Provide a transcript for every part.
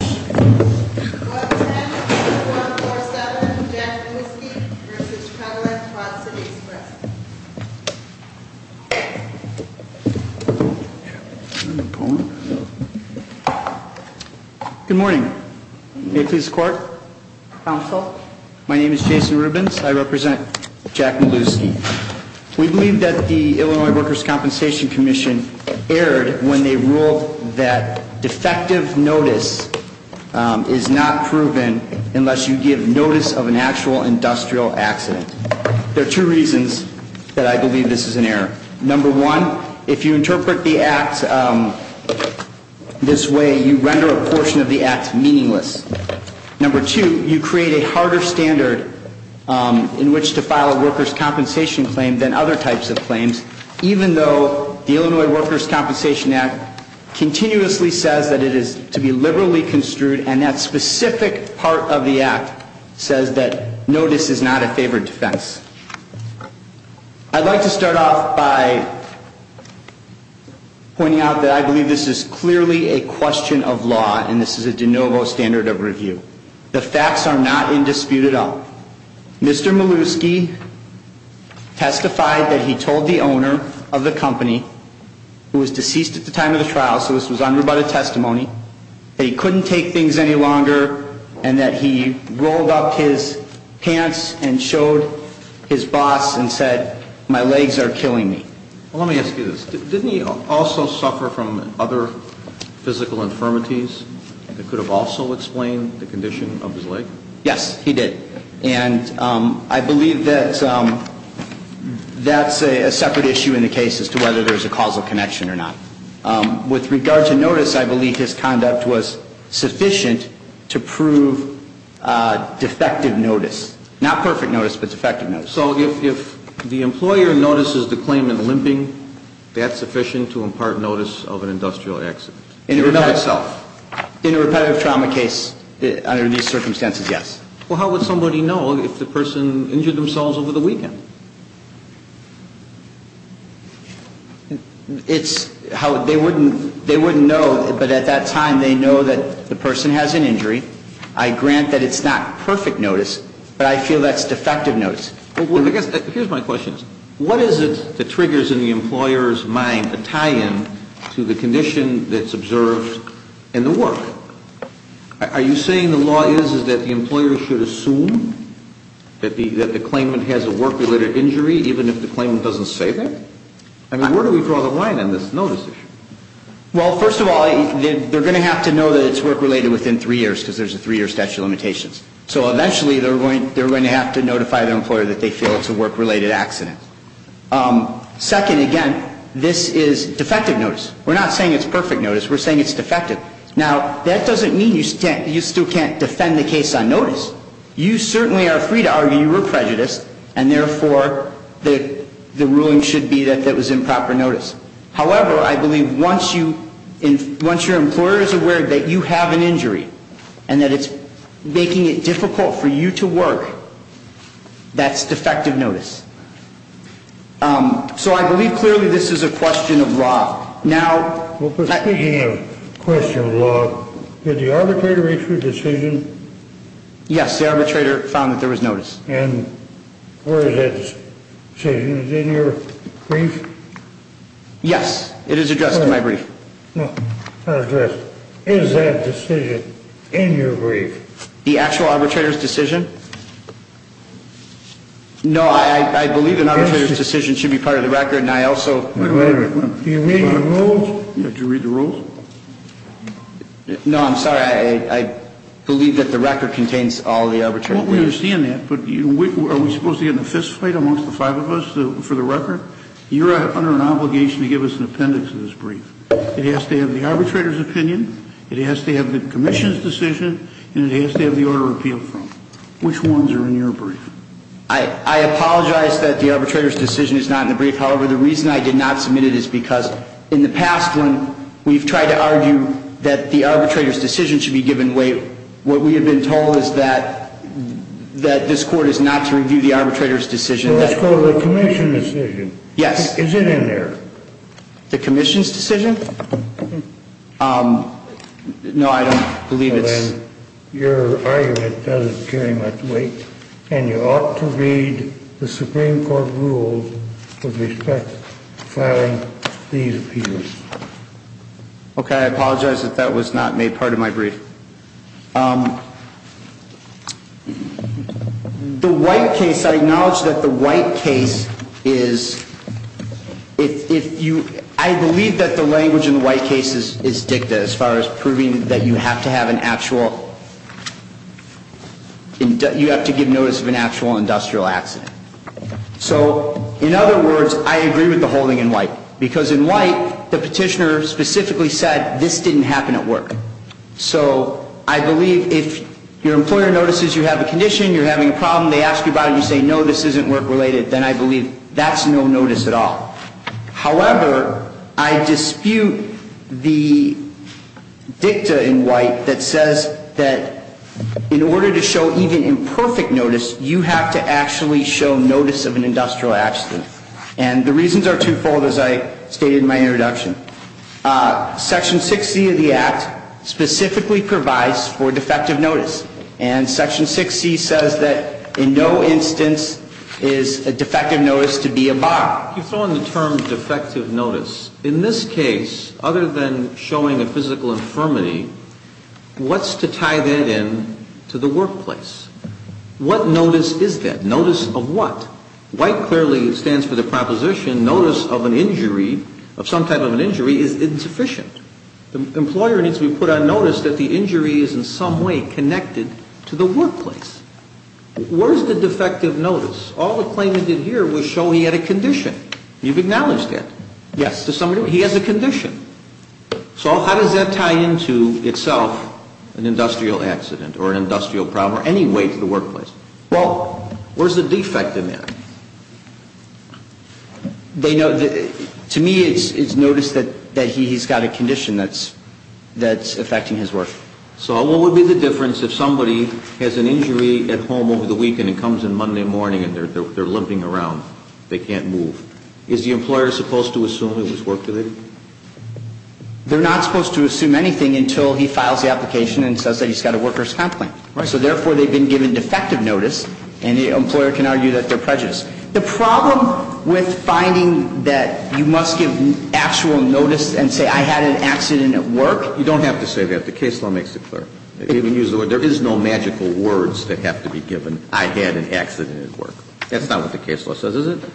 Good morning. May it please the Court. Counsel. My name is Jason Rubins. I represent Jack Mielewski. We believe that the Illinois Workers' Compensation Commission erred when they ruled that defective notice is not proven unless you give notice of an actual industrial accident. There are two reasons that I believe this is an error. Number one, if you interpret the act this way, you render a portion of the act meaningless. Number two, you create a harder standard in which to file a workers' compensation claim than other types of claims, even though the Illinois Workers' Compensation Commission does not do that. Number three, you deliberately construed, and that specific part of the act says that notice is not a favored defense. I'd like to start off by pointing out that I believe this is clearly a question of law, and this is a de novo standard of review. The facts are not in dispute at all. Mr. Mielewski testified that he told the owner of the company who was deceased at the time of the testimony that he couldn't take things any longer and that he rolled up his pants and showed his boss and said, my legs are killing me. Well, let me ask you this. Didn't he also suffer from other physical infirmities that could have also explained the condition of his leg? Yes, he did. And I believe that that's a separate issue in the case as to whether there's a causal connection or not. With regard to notice, I believe his conduct was sufficient to prove defective notice. Not perfect notice, but defective notice. So if the employer notices the claimant limping, that's sufficient to impart notice of an industrial accident? In and of itself. In a repetitive trauma case, under these circumstances, yes. Well, how would somebody know if the person injured themselves over the weekend? It's how they wouldn't know, but at that time they know that the person has an injury. I grant that it's not perfect notice, but I feel that's defective notice. Well, I guess here's my question. What is it that triggers in the employer's mind a tie-in to the condition that's observed in the work? Are you saying the law is that the employer should assume that the claimant has a work-related injury even if the claimant doesn't say that? I mean, where do we draw the line on this notice issue? Well, first of all, they're going to have to know that it's work-related within three years because there's a three-year statute of limitations. So eventually they're going to have to notify their employer that they feel it's a work-related accident. Second, again, this is defective notice. We're not saying it's perfect notice. We're saying it's defective. Now, that doesn't mean you still can't defend the case on notice. You certainly are free to argue you were prejudiced, and therefore the ruling should be that that was improper notice. However, I believe once your employer is aware that you have an injury and that it's making it difficult for you to work, that's defective notice. So I believe clearly this is a question of law. Now, speaking of question of law, did the arbitrator issue a decision? Yes, the arbitrator found that there was notice. And where is that decision? Is it in your brief? Yes, it is addressed in my brief. Is that decision in your brief? The actual arbitrator's decision? No, I believe an arbitrator's decision should be part of the record. What record? Do you read the rules? Yeah, do you read the rules? No, I'm sorry. I believe that the record contains all the arbitrator's brief. Well, we understand that, but are we supposed to get in a fistfight amongst the five of us for the record? You're under an obligation to give us an appendix of this brief. It has to have the arbitrator's opinion, it has to have the commission's decision, and it has to have the order appealed from. Which ones are in your brief? I apologize that the arbitrator's decision is not in the brief. However, the reason I did not submit it is because in the past when we've tried to argue that the arbitrator's decision should be given weight, what we have been told is that this Court is not to review the arbitrator's decision. Well, it's called the commission's decision. Yes. Is it in there? The commission's decision? No, I don't believe it's... Your argument doesn't carry much weight, and you ought to read the Supreme Court rules with respect to filing these appeals. Okay, I apologize that that was not made part of my brief. The White case, I acknowledge that the White case is... You have to give notice of an actual industrial accident. So, in other words, I agree with the holding in White. Because in White, the petitioner specifically said, this didn't happen at work. So, I believe if your employer notices you have a condition, you're having a problem, they ask you about it, and you say, no, this isn't work-related, then I believe that's no notice at all. However, I dispute the dicta in White that says that in order to show even imperfect notice, you have to actually show notice of an industrial accident. And the reasons are twofold, as I stated in my introduction. Section 6C of the Act specifically provides for defective notice. And Section 6C says that in no instance is a defective notice to be a bar. You throw in the term defective notice. In this case, other than showing a physical infirmity, what's to tie that in to the workplace? What notice is that? Notice of what? White clearly stands for the proposition notice of an injury, of some type of an injury, is insufficient. The employer needs to be put on notice that the injury is in some way connected to the workplace. Where's the defective notice? All the claimant did here was show he had a condition. You've acknowledged that. Yes. He has a condition. So how does that tie in to itself, an industrial accident or an industrial problem, or any way to the workplace? Well, where's the defect in that? To me, it's notice that he's got a condition that's affecting his work. So what would be the difference if somebody has an injury at home over the weekend and comes in Monday morning and they're limping around, they can't move. Is the employer supposed to assume it was work-related? They're not supposed to assume anything until he files the application and says that he's got a worker's complaint. Right. So therefore, they've been given defective notice, and the employer can argue that they're prejudiced. The problem with finding that you must give actual notice and say, I had an accident at work. You don't have to say that. The case law makes it clear. There is no magical words that have to be given, I had an accident at work. That's not what the case law says, is it?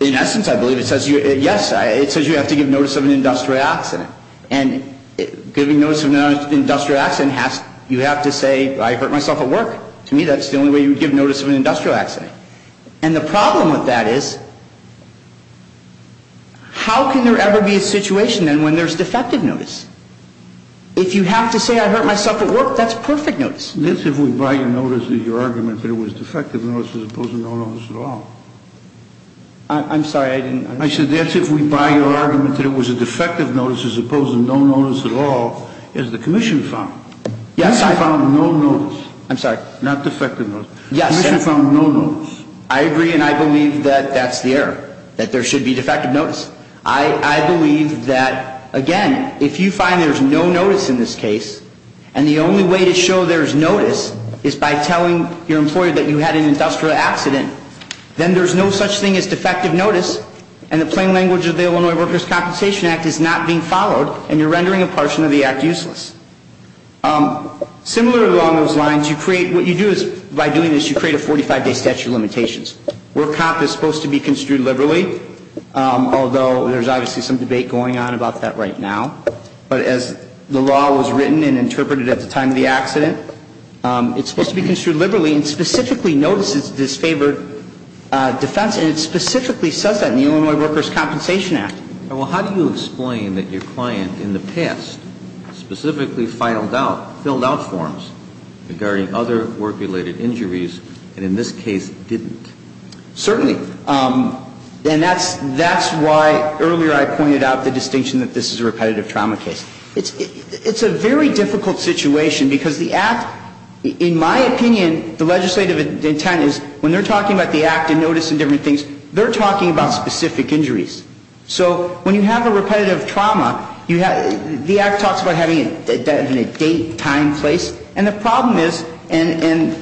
In essence, I believe it says, yes, it says you have to give notice of an industrial accident. And giving notice of an industrial accident, you have to say, I hurt myself at work. To me, that's the only way you would give notice of an industrial accident. And the problem with that is, how can there ever be a situation then when there's defective notice? If you have to say, I hurt myself at work, that's perfect notice. That's if we buy your notice of your argument that it was defective notice as opposed to no notice at all. I'm sorry, I didn't understand. I said that's if we buy your argument that it was a defective notice as opposed to no notice at all, as the commission found. Yes, I found no notice. I'm sorry. Not defective notice. Yes. The commission found no notice. I agree, and I believe that that's the error, that there should be defective notice. I believe that, again, if you find there's no notice in this case, and the only way to show there's notice is by telling your employer that you had an industrial accident, then there's no such thing as defective notice, and the plain language of the Illinois Workers' Compensation Act is not being followed, and you're rendering a portion of the act useless. Similar along those lines, you create, what you do is, by doing this, you create a 45-day statute of limitations where a cop is supposed to be construed liberally, although there's obviously some debate going on about that right now. But as the law was written and interpreted at the time of the accident, it's supposed to be construed liberally and specifically notices this favored defense, and it specifically says that in the Illinois Workers' Compensation Act. Well, how do you explain that your client in the past specifically filed out, filled out forms regarding other work-related injuries and in this case didn't? Certainly. And that's why earlier I pointed out the distinction that this is a repetitive trauma case. It's a very difficult situation because the act, in my opinion, the legislative intent is when they're talking about the act and notice and different things, they're talking about specific injuries. So when you have a repetitive trauma, the act talks about having a date, time, place. And the problem is, and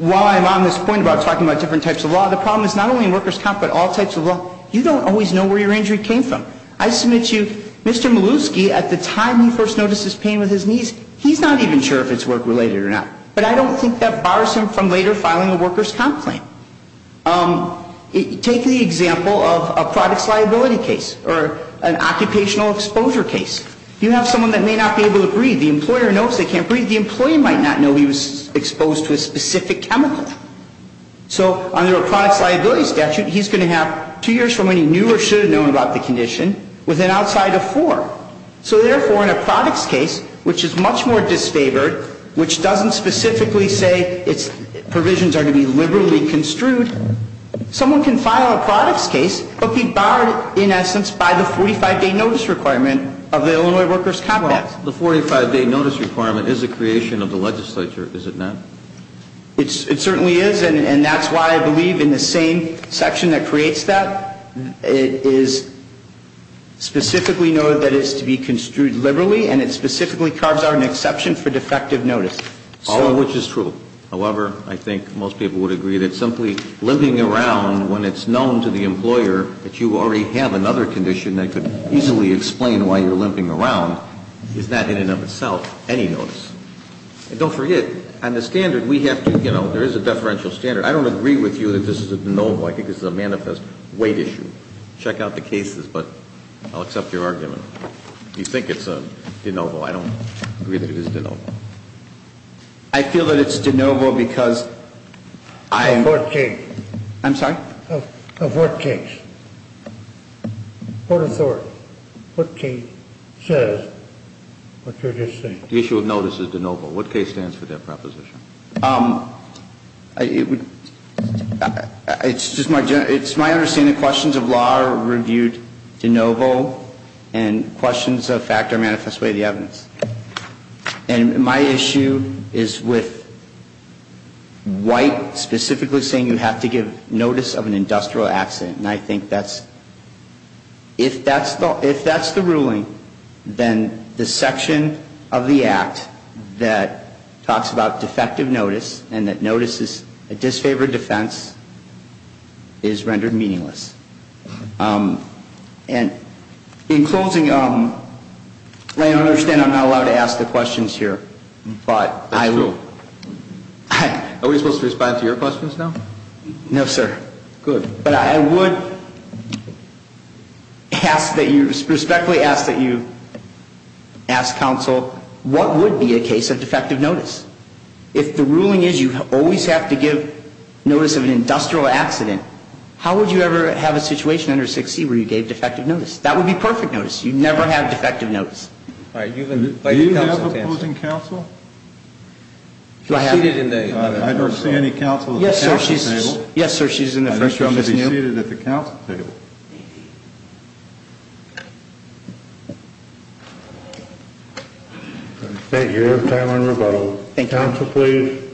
while I'm on this point about talking about different types of law, the problem is not only in workers' comp but all types of law, you don't always know where your injury came from. I submit to you, Mr. Malewski, at the time he first noticed his pain with his knees, he's not even sure if it's work-related or not. But I don't think that bars him from later filing a workers' comp claim. Take the example of a products liability case or an occupational exposure case. You have someone that may not be able to breathe. The employer knows they can't breathe. The employee might not know he was exposed to a specific chemical. So under a products liability statute, he's going to have two years from when he knew or should have known about the condition with an outside of four. So therefore, in a products case, which is much more disfavored, which doesn't specifically say its provisions are to be liberally construed, someone can file a products case but be barred, in essence, by the 45-day notice requirement of the Illinois workers' comp act. The 45-day notice requirement is a creation of the legislature, is it not? It certainly is, and that's why I believe in the same section that creates that, it is specifically noted that it's to be construed liberally, and it specifically carves out an exception for defective notice. All of which is true. However, I think most people would agree that simply limping around when it's known to the employer that you already have another condition that could easily explain why you're limping around is not, in and of itself, any notice. And don't forget, on the standard, we have to, you know, there is a deferential standard. I don't agree with you that this is a de novo. I think this is a manifest weight issue. Check out the cases, but I'll accept your argument. You think it's a de novo. I don't agree that it is de novo. I feel that it's de novo because I'm. Of what case? I'm sorry? Of what case? Court of authority. What case says what you're just saying. The issue of notice is de novo. What case stands for that proposition? It's my understanding that questions of law are reviewed de novo and questions of fact are manifest weight of the evidence. And my issue is with White specifically saying you have to give notice of an industrial accident. And I think that's, if that's the ruling, then the section of the act that talks about defective notice and that notice is a disfavored defense is rendered meaningless. And in closing, I understand I'm not allowed to ask the questions here, but I will. Are we supposed to respond to your questions now? No, sir. Good. But I would ask that you, respectfully ask that you ask counsel what would be a situation under 6C where you gave defective notice. If the ruling is you always have to give notice of an industrial accident, how would you ever have a situation under 6C where you gave defective notice? That would be perfect notice. You never have defective notice. Do you have a opposing counsel? I don't see any counsel at the council table. Yes, sir, she's in the front row. She's going to be seated at the counsel table. Thank you. You have time on rebuttal. Thank you. Counsel, please.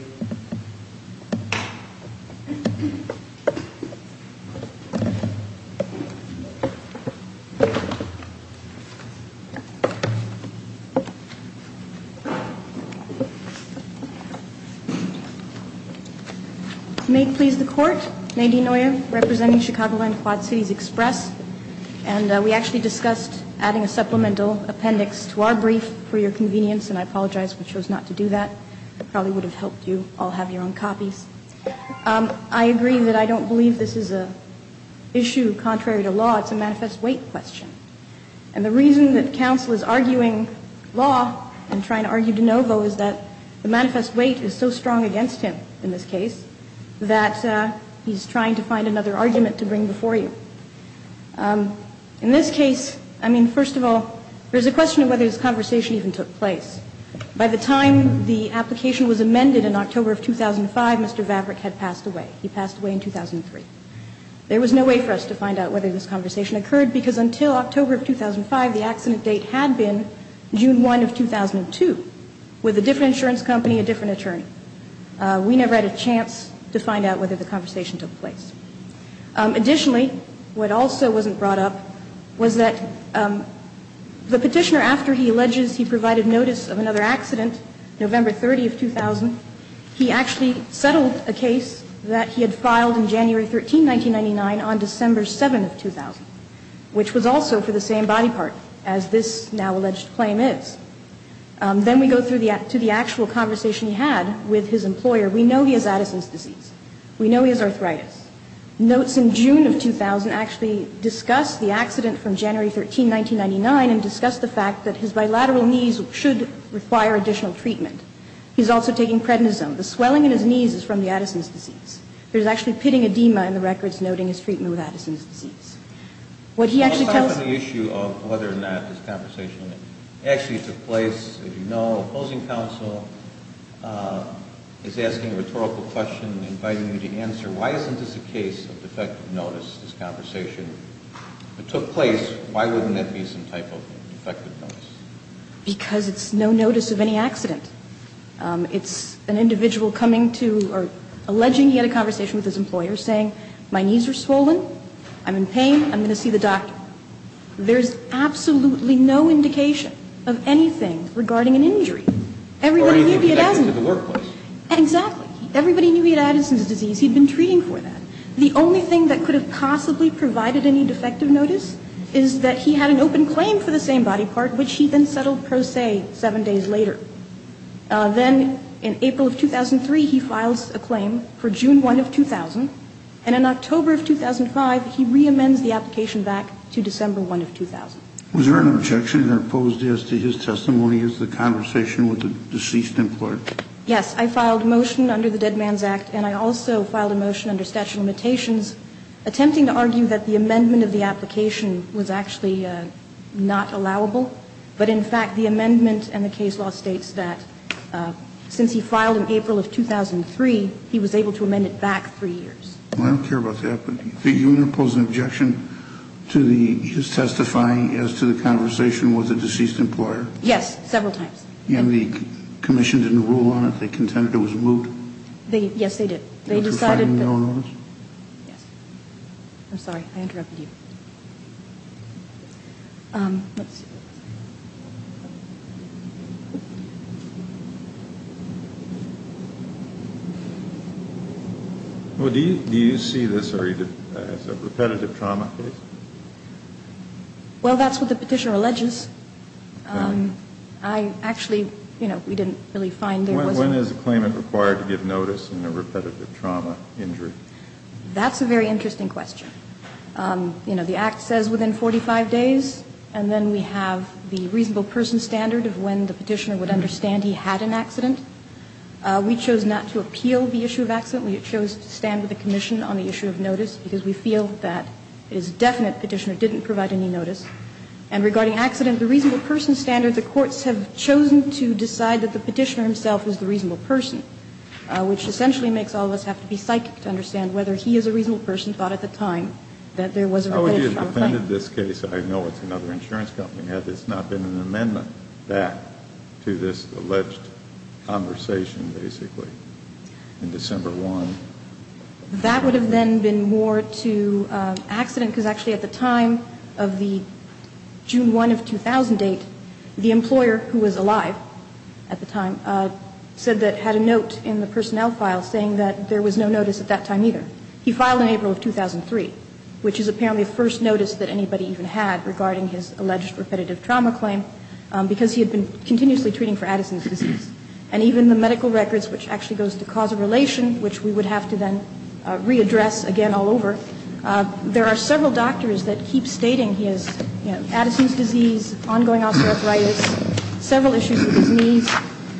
May it please the court, Nadine Neuer, representing Chicago-Land Quad Cities Express. And we actually discussed adding a supplemental appendix to our brief for your convenience, and I apologize. We chose not to do that. Thank you. Thank you. Thank you. Thank you. Thank you. I'll take my question. All have your own copies? I agree that I don't believe this is an issue contrary to law. It's a manifest weight question. And the reason that counsel is arguing law and trying to argue de novo is that the manifest weight is so strong against him in this case that he's trying to find another argument to bring before you. In this case, I mean, first of all, there's a question of whether this In fact, in October of 2005, Mr. Vavreck had passed away. He passed away in 2003. There was no way for us to find out whether this conversation occurred because until October of 2005, the accident date had been June 1 of 2002 with a different insurance company, a different attorney. We never had a chance to find out whether the conversation took place. Additionally, what also wasn't brought up was that the Petitioner, after he alleges he provided notice of another accident, November 30 of 2000, he actually settled a case that he had filed in January 13, 1999 on December 7 of 2000, which was also for the same body part as this now alleged claim is. Then we go to the actual conversation he had with his employer. We know he has Addison's disease. We know he has arthritis. Notes in June of 2000 actually discuss the accident from January 13, 1999 and discuss the fact that his bilateral knees should require additional treatment. He's also taking prednisone. The swelling in his knees is from the Addison's disease. There's actually pitting edema in the records noting his treatment with Addison's disease. What he actually tells us... I'll stop on the issue of whether or not this conversation actually took place. As you know, opposing counsel is asking a rhetorical question, inviting you to answer why isn't this a case of defective notice, this conversation? If it took place, why wouldn't it be some type of defective notice? Because it's no notice of any accident. It's an individual coming to or alleging he had a conversation with his employer saying my knees are swollen, I'm in pain, I'm going to see the doctor. There's absolutely no indication of anything regarding an injury. Or anything connected to the workplace. Exactly. Everybody knew he had Addison's disease. He'd been treating for that. The only thing that could have possibly provided any defective notice is that he had an open claim for the same body part, which he then settled pro se seven days later. Then in April of 2003, he files a claim for June 1 of 2000. And in October of 2005, he reamends the application back to December 1 of 2000. Was there an objection or opposed as to his testimony as the conversation with the deceased employer? Yes, I filed a motion under the Dead Man's Act. And I also filed a motion under statute of limitations attempting to argue that the amendment of the application was actually not allowable. But in fact, the amendment and the case law states that since he filed in April of 2003, he was able to amend it back three years. I don't care about that. But you wouldn't oppose an objection to his testifying as to the conversation with the deceased employer? Yes, several times. And the commission didn't rule on it? They contended it was moved? Yes, they did. They decided that? Yes. I'm sorry. I interrupted you. Let's see. Do you see this as a repetitive trauma case? Well, that's what the petitioner alleges. I actually, you know, we didn't really find there was a. When is a claimant required to give notice in a repetitive trauma injury? That's a very interesting question. You know, the Act says within 45 days. And then we have the reasonable person standard of when the petitioner would understand he had an accident. We chose not to appeal the issue of accident. We chose to stand with the commission on the issue of notice because we feel that it is definite the petitioner didn't provide any notice. And regarding accident, the reasonable person standard, the courts have chosen to decide that the petitioner himself was the reasonable person, which essentially makes all of us have to be psychic to understand whether he as a reasonable person thought at the time that there was a repetitive trauma claim. Oh, he had defended this case. I know it's another insurance company. Had this not been an amendment back to this alleged conversation, basically, in December 1. That would have then been more to accident because actually at the time of the case, June 1 of 2008, the employer who was alive at the time said that had a note in the personnel file saying that there was no notice at that time either. He filed in April of 2003, which is apparently the first notice that anybody even had regarding his alleged repetitive trauma claim because he had been continuously treating for Addison's disease. And even the medical records, which actually goes to causal relation, which we would have to then readdress again all over. So there are several doctors that keep stating he has Addison's disease, ongoing osteoarthritis, several issues with his knees,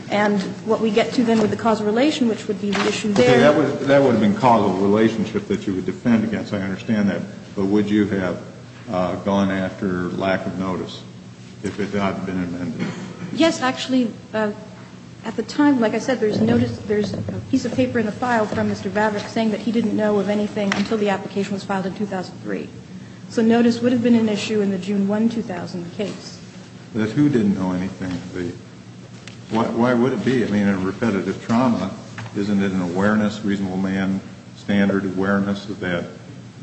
and what we get to then with the causal relation, which would be the issue there. That would have been causal relationship that you would defend against. I understand that. But would you have gone after lack of notice if it had not been amended? Yes. Actually, at the time, like I said, there's notice, there's a piece of paper in the 2003. So notice would have been an issue in the June 1, 2000 case. But who didn't know anything? Why would it be? I mean, a repetitive trauma, isn't it an awareness, reasonable man, standard awareness that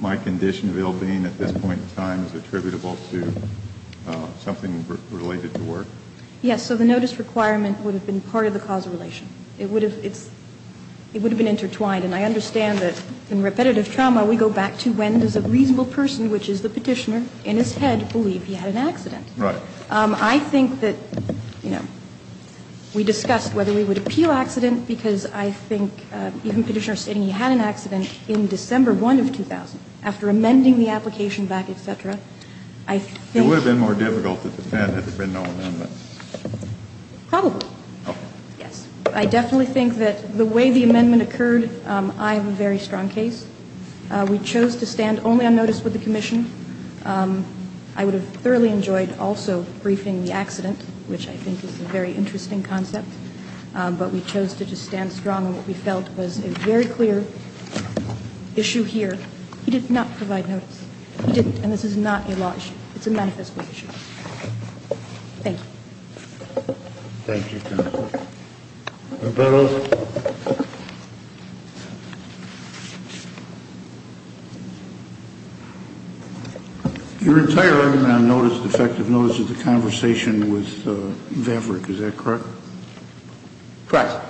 my condition of ill-being at this point in time is attributable to something related to work? Yes. So the notice requirement would have been part of the causal relation. It would have been intertwined. And I understand that in repetitive trauma, we go back to when there's a reasonable person, which is the Petitioner, in his head believe he had an accident. Right. I think that, you know, we discussed whether we would appeal accident because I think even Petitioner stating he had an accident in December 1 of 2000, after amending the application back, et cetera, I think It would have been more difficult to defend if there had been no amendment. Probably. Okay. Yes. I definitely think that the way the amendment occurred, I have a very strong case. We chose to stand only on notice with the commission. I would have thoroughly enjoyed also briefing the accident, which I think is a very interesting concept. But we chose to just stand strong on what we felt was a very clear issue here. He did not provide notice. He didn't. And this is not a law issue. It's a manifesto issue. Thank you. Thank you, counsel. Roberto. You're retiring on effective notice of the conversation with Vaverick. Is that correct? Correct.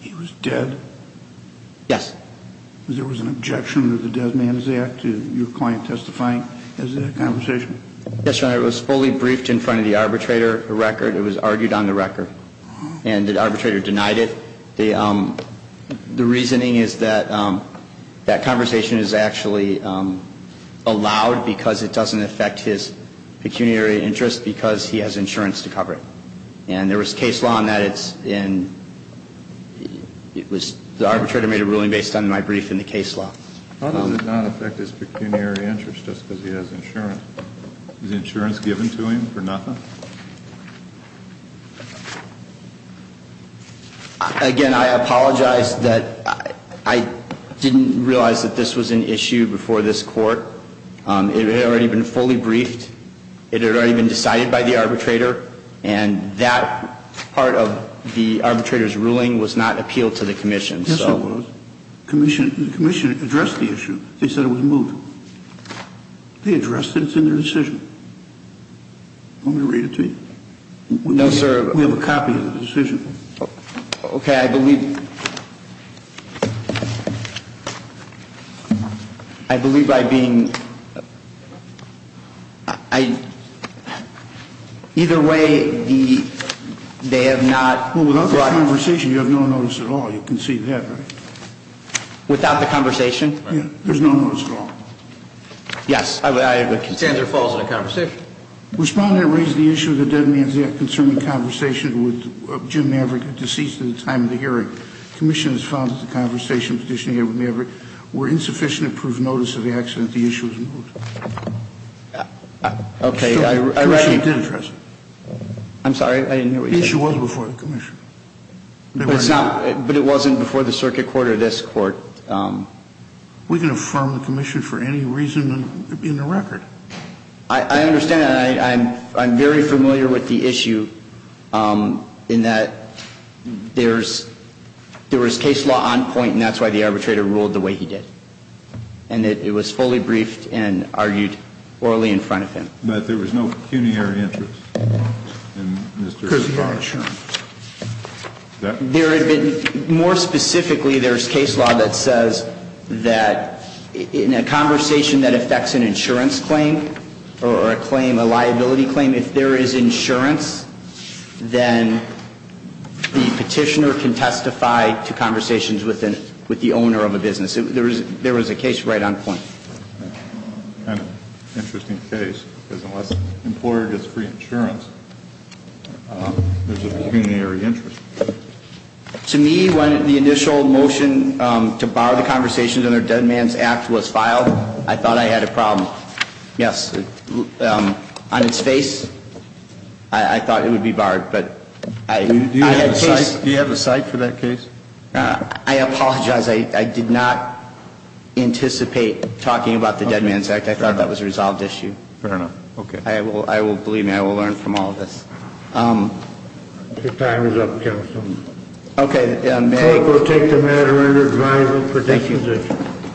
He was dead? Yes. There was an objection of the Dead Man's Act, your client testifying, as a conversation? Yes, Your Honor. It was fully briefed in front of the arbitrator, the record. It was argued on the record. And the arbitrator denied it. The reasoning is that that conversation is actually allowed because it doesn't affect his pecuniary interest because he has insurance to cover it. And there was case law in that it's in the arbitrator made a ruling based on my brief in the case law. How does it not affect his pecuniary interest just because he has insurance? Is insurance given to him for nothing? Again, I apologize that I didn't realize that this was an issue before this court. It had already been fully briefed. It had already been decided by the arbitrator. And that part of the arbitrator's ruling was not appealed to the commission. Yes, it was. The commission addressed the issue. They said it was moved. They addressed it. It's in their decision. Do you want me to read it to you? No, sir. We have a copy of the decision. Okay. I believe by being – either way, they have not brought – Well, without the conversation, you have no notice at all. You can see that, right? Without the conversation? Yeah. There's no notice at all. Yes. The contender falls in a conversation. Respondent raised the issue of the dead man's death concerning conversations with Jim Maverick, deceased at the time of the hearing. Commissioners found that the conversations he had with Maverick were insufficient to prove notice of the accident. The issue was moved. Okay. I recognize – The commission did address it. I'm sorry. I didn't hear what you said. The issue was before the commission. But it's not – but it wasn't before the circuit court or this court. We can affirm the commission for any reason in the record. I understand that. I'm very familiar with the issue in that there's – there was case law on point, and that's why the arbitrator ruled the way he did, and that it was fully briefed and argued orally in front of him. More specifically, there's case law that says that in a conversation that affects an insurance claim or a claim, a liability claim, if there is insurance, then the petitioner can testify to conversations with the owner of a business. There was a case right on point. Interesting case. Because unless the employer gets free insurance, there's a pecuniary interest. To me, when the initial motion to bar the conversations under the Dead Man's Act was filed, I thought I had a problem. Yes. On its face, I thought it would be barred. Do you have a cite for that case? I apologize. I did not anticipate talking about the Dead Man's Act. I thought that was a resolved issue. Fair enough. Okay. Believe me, I will learn from all of this. Your time is up, counsel. Okay. Thank you.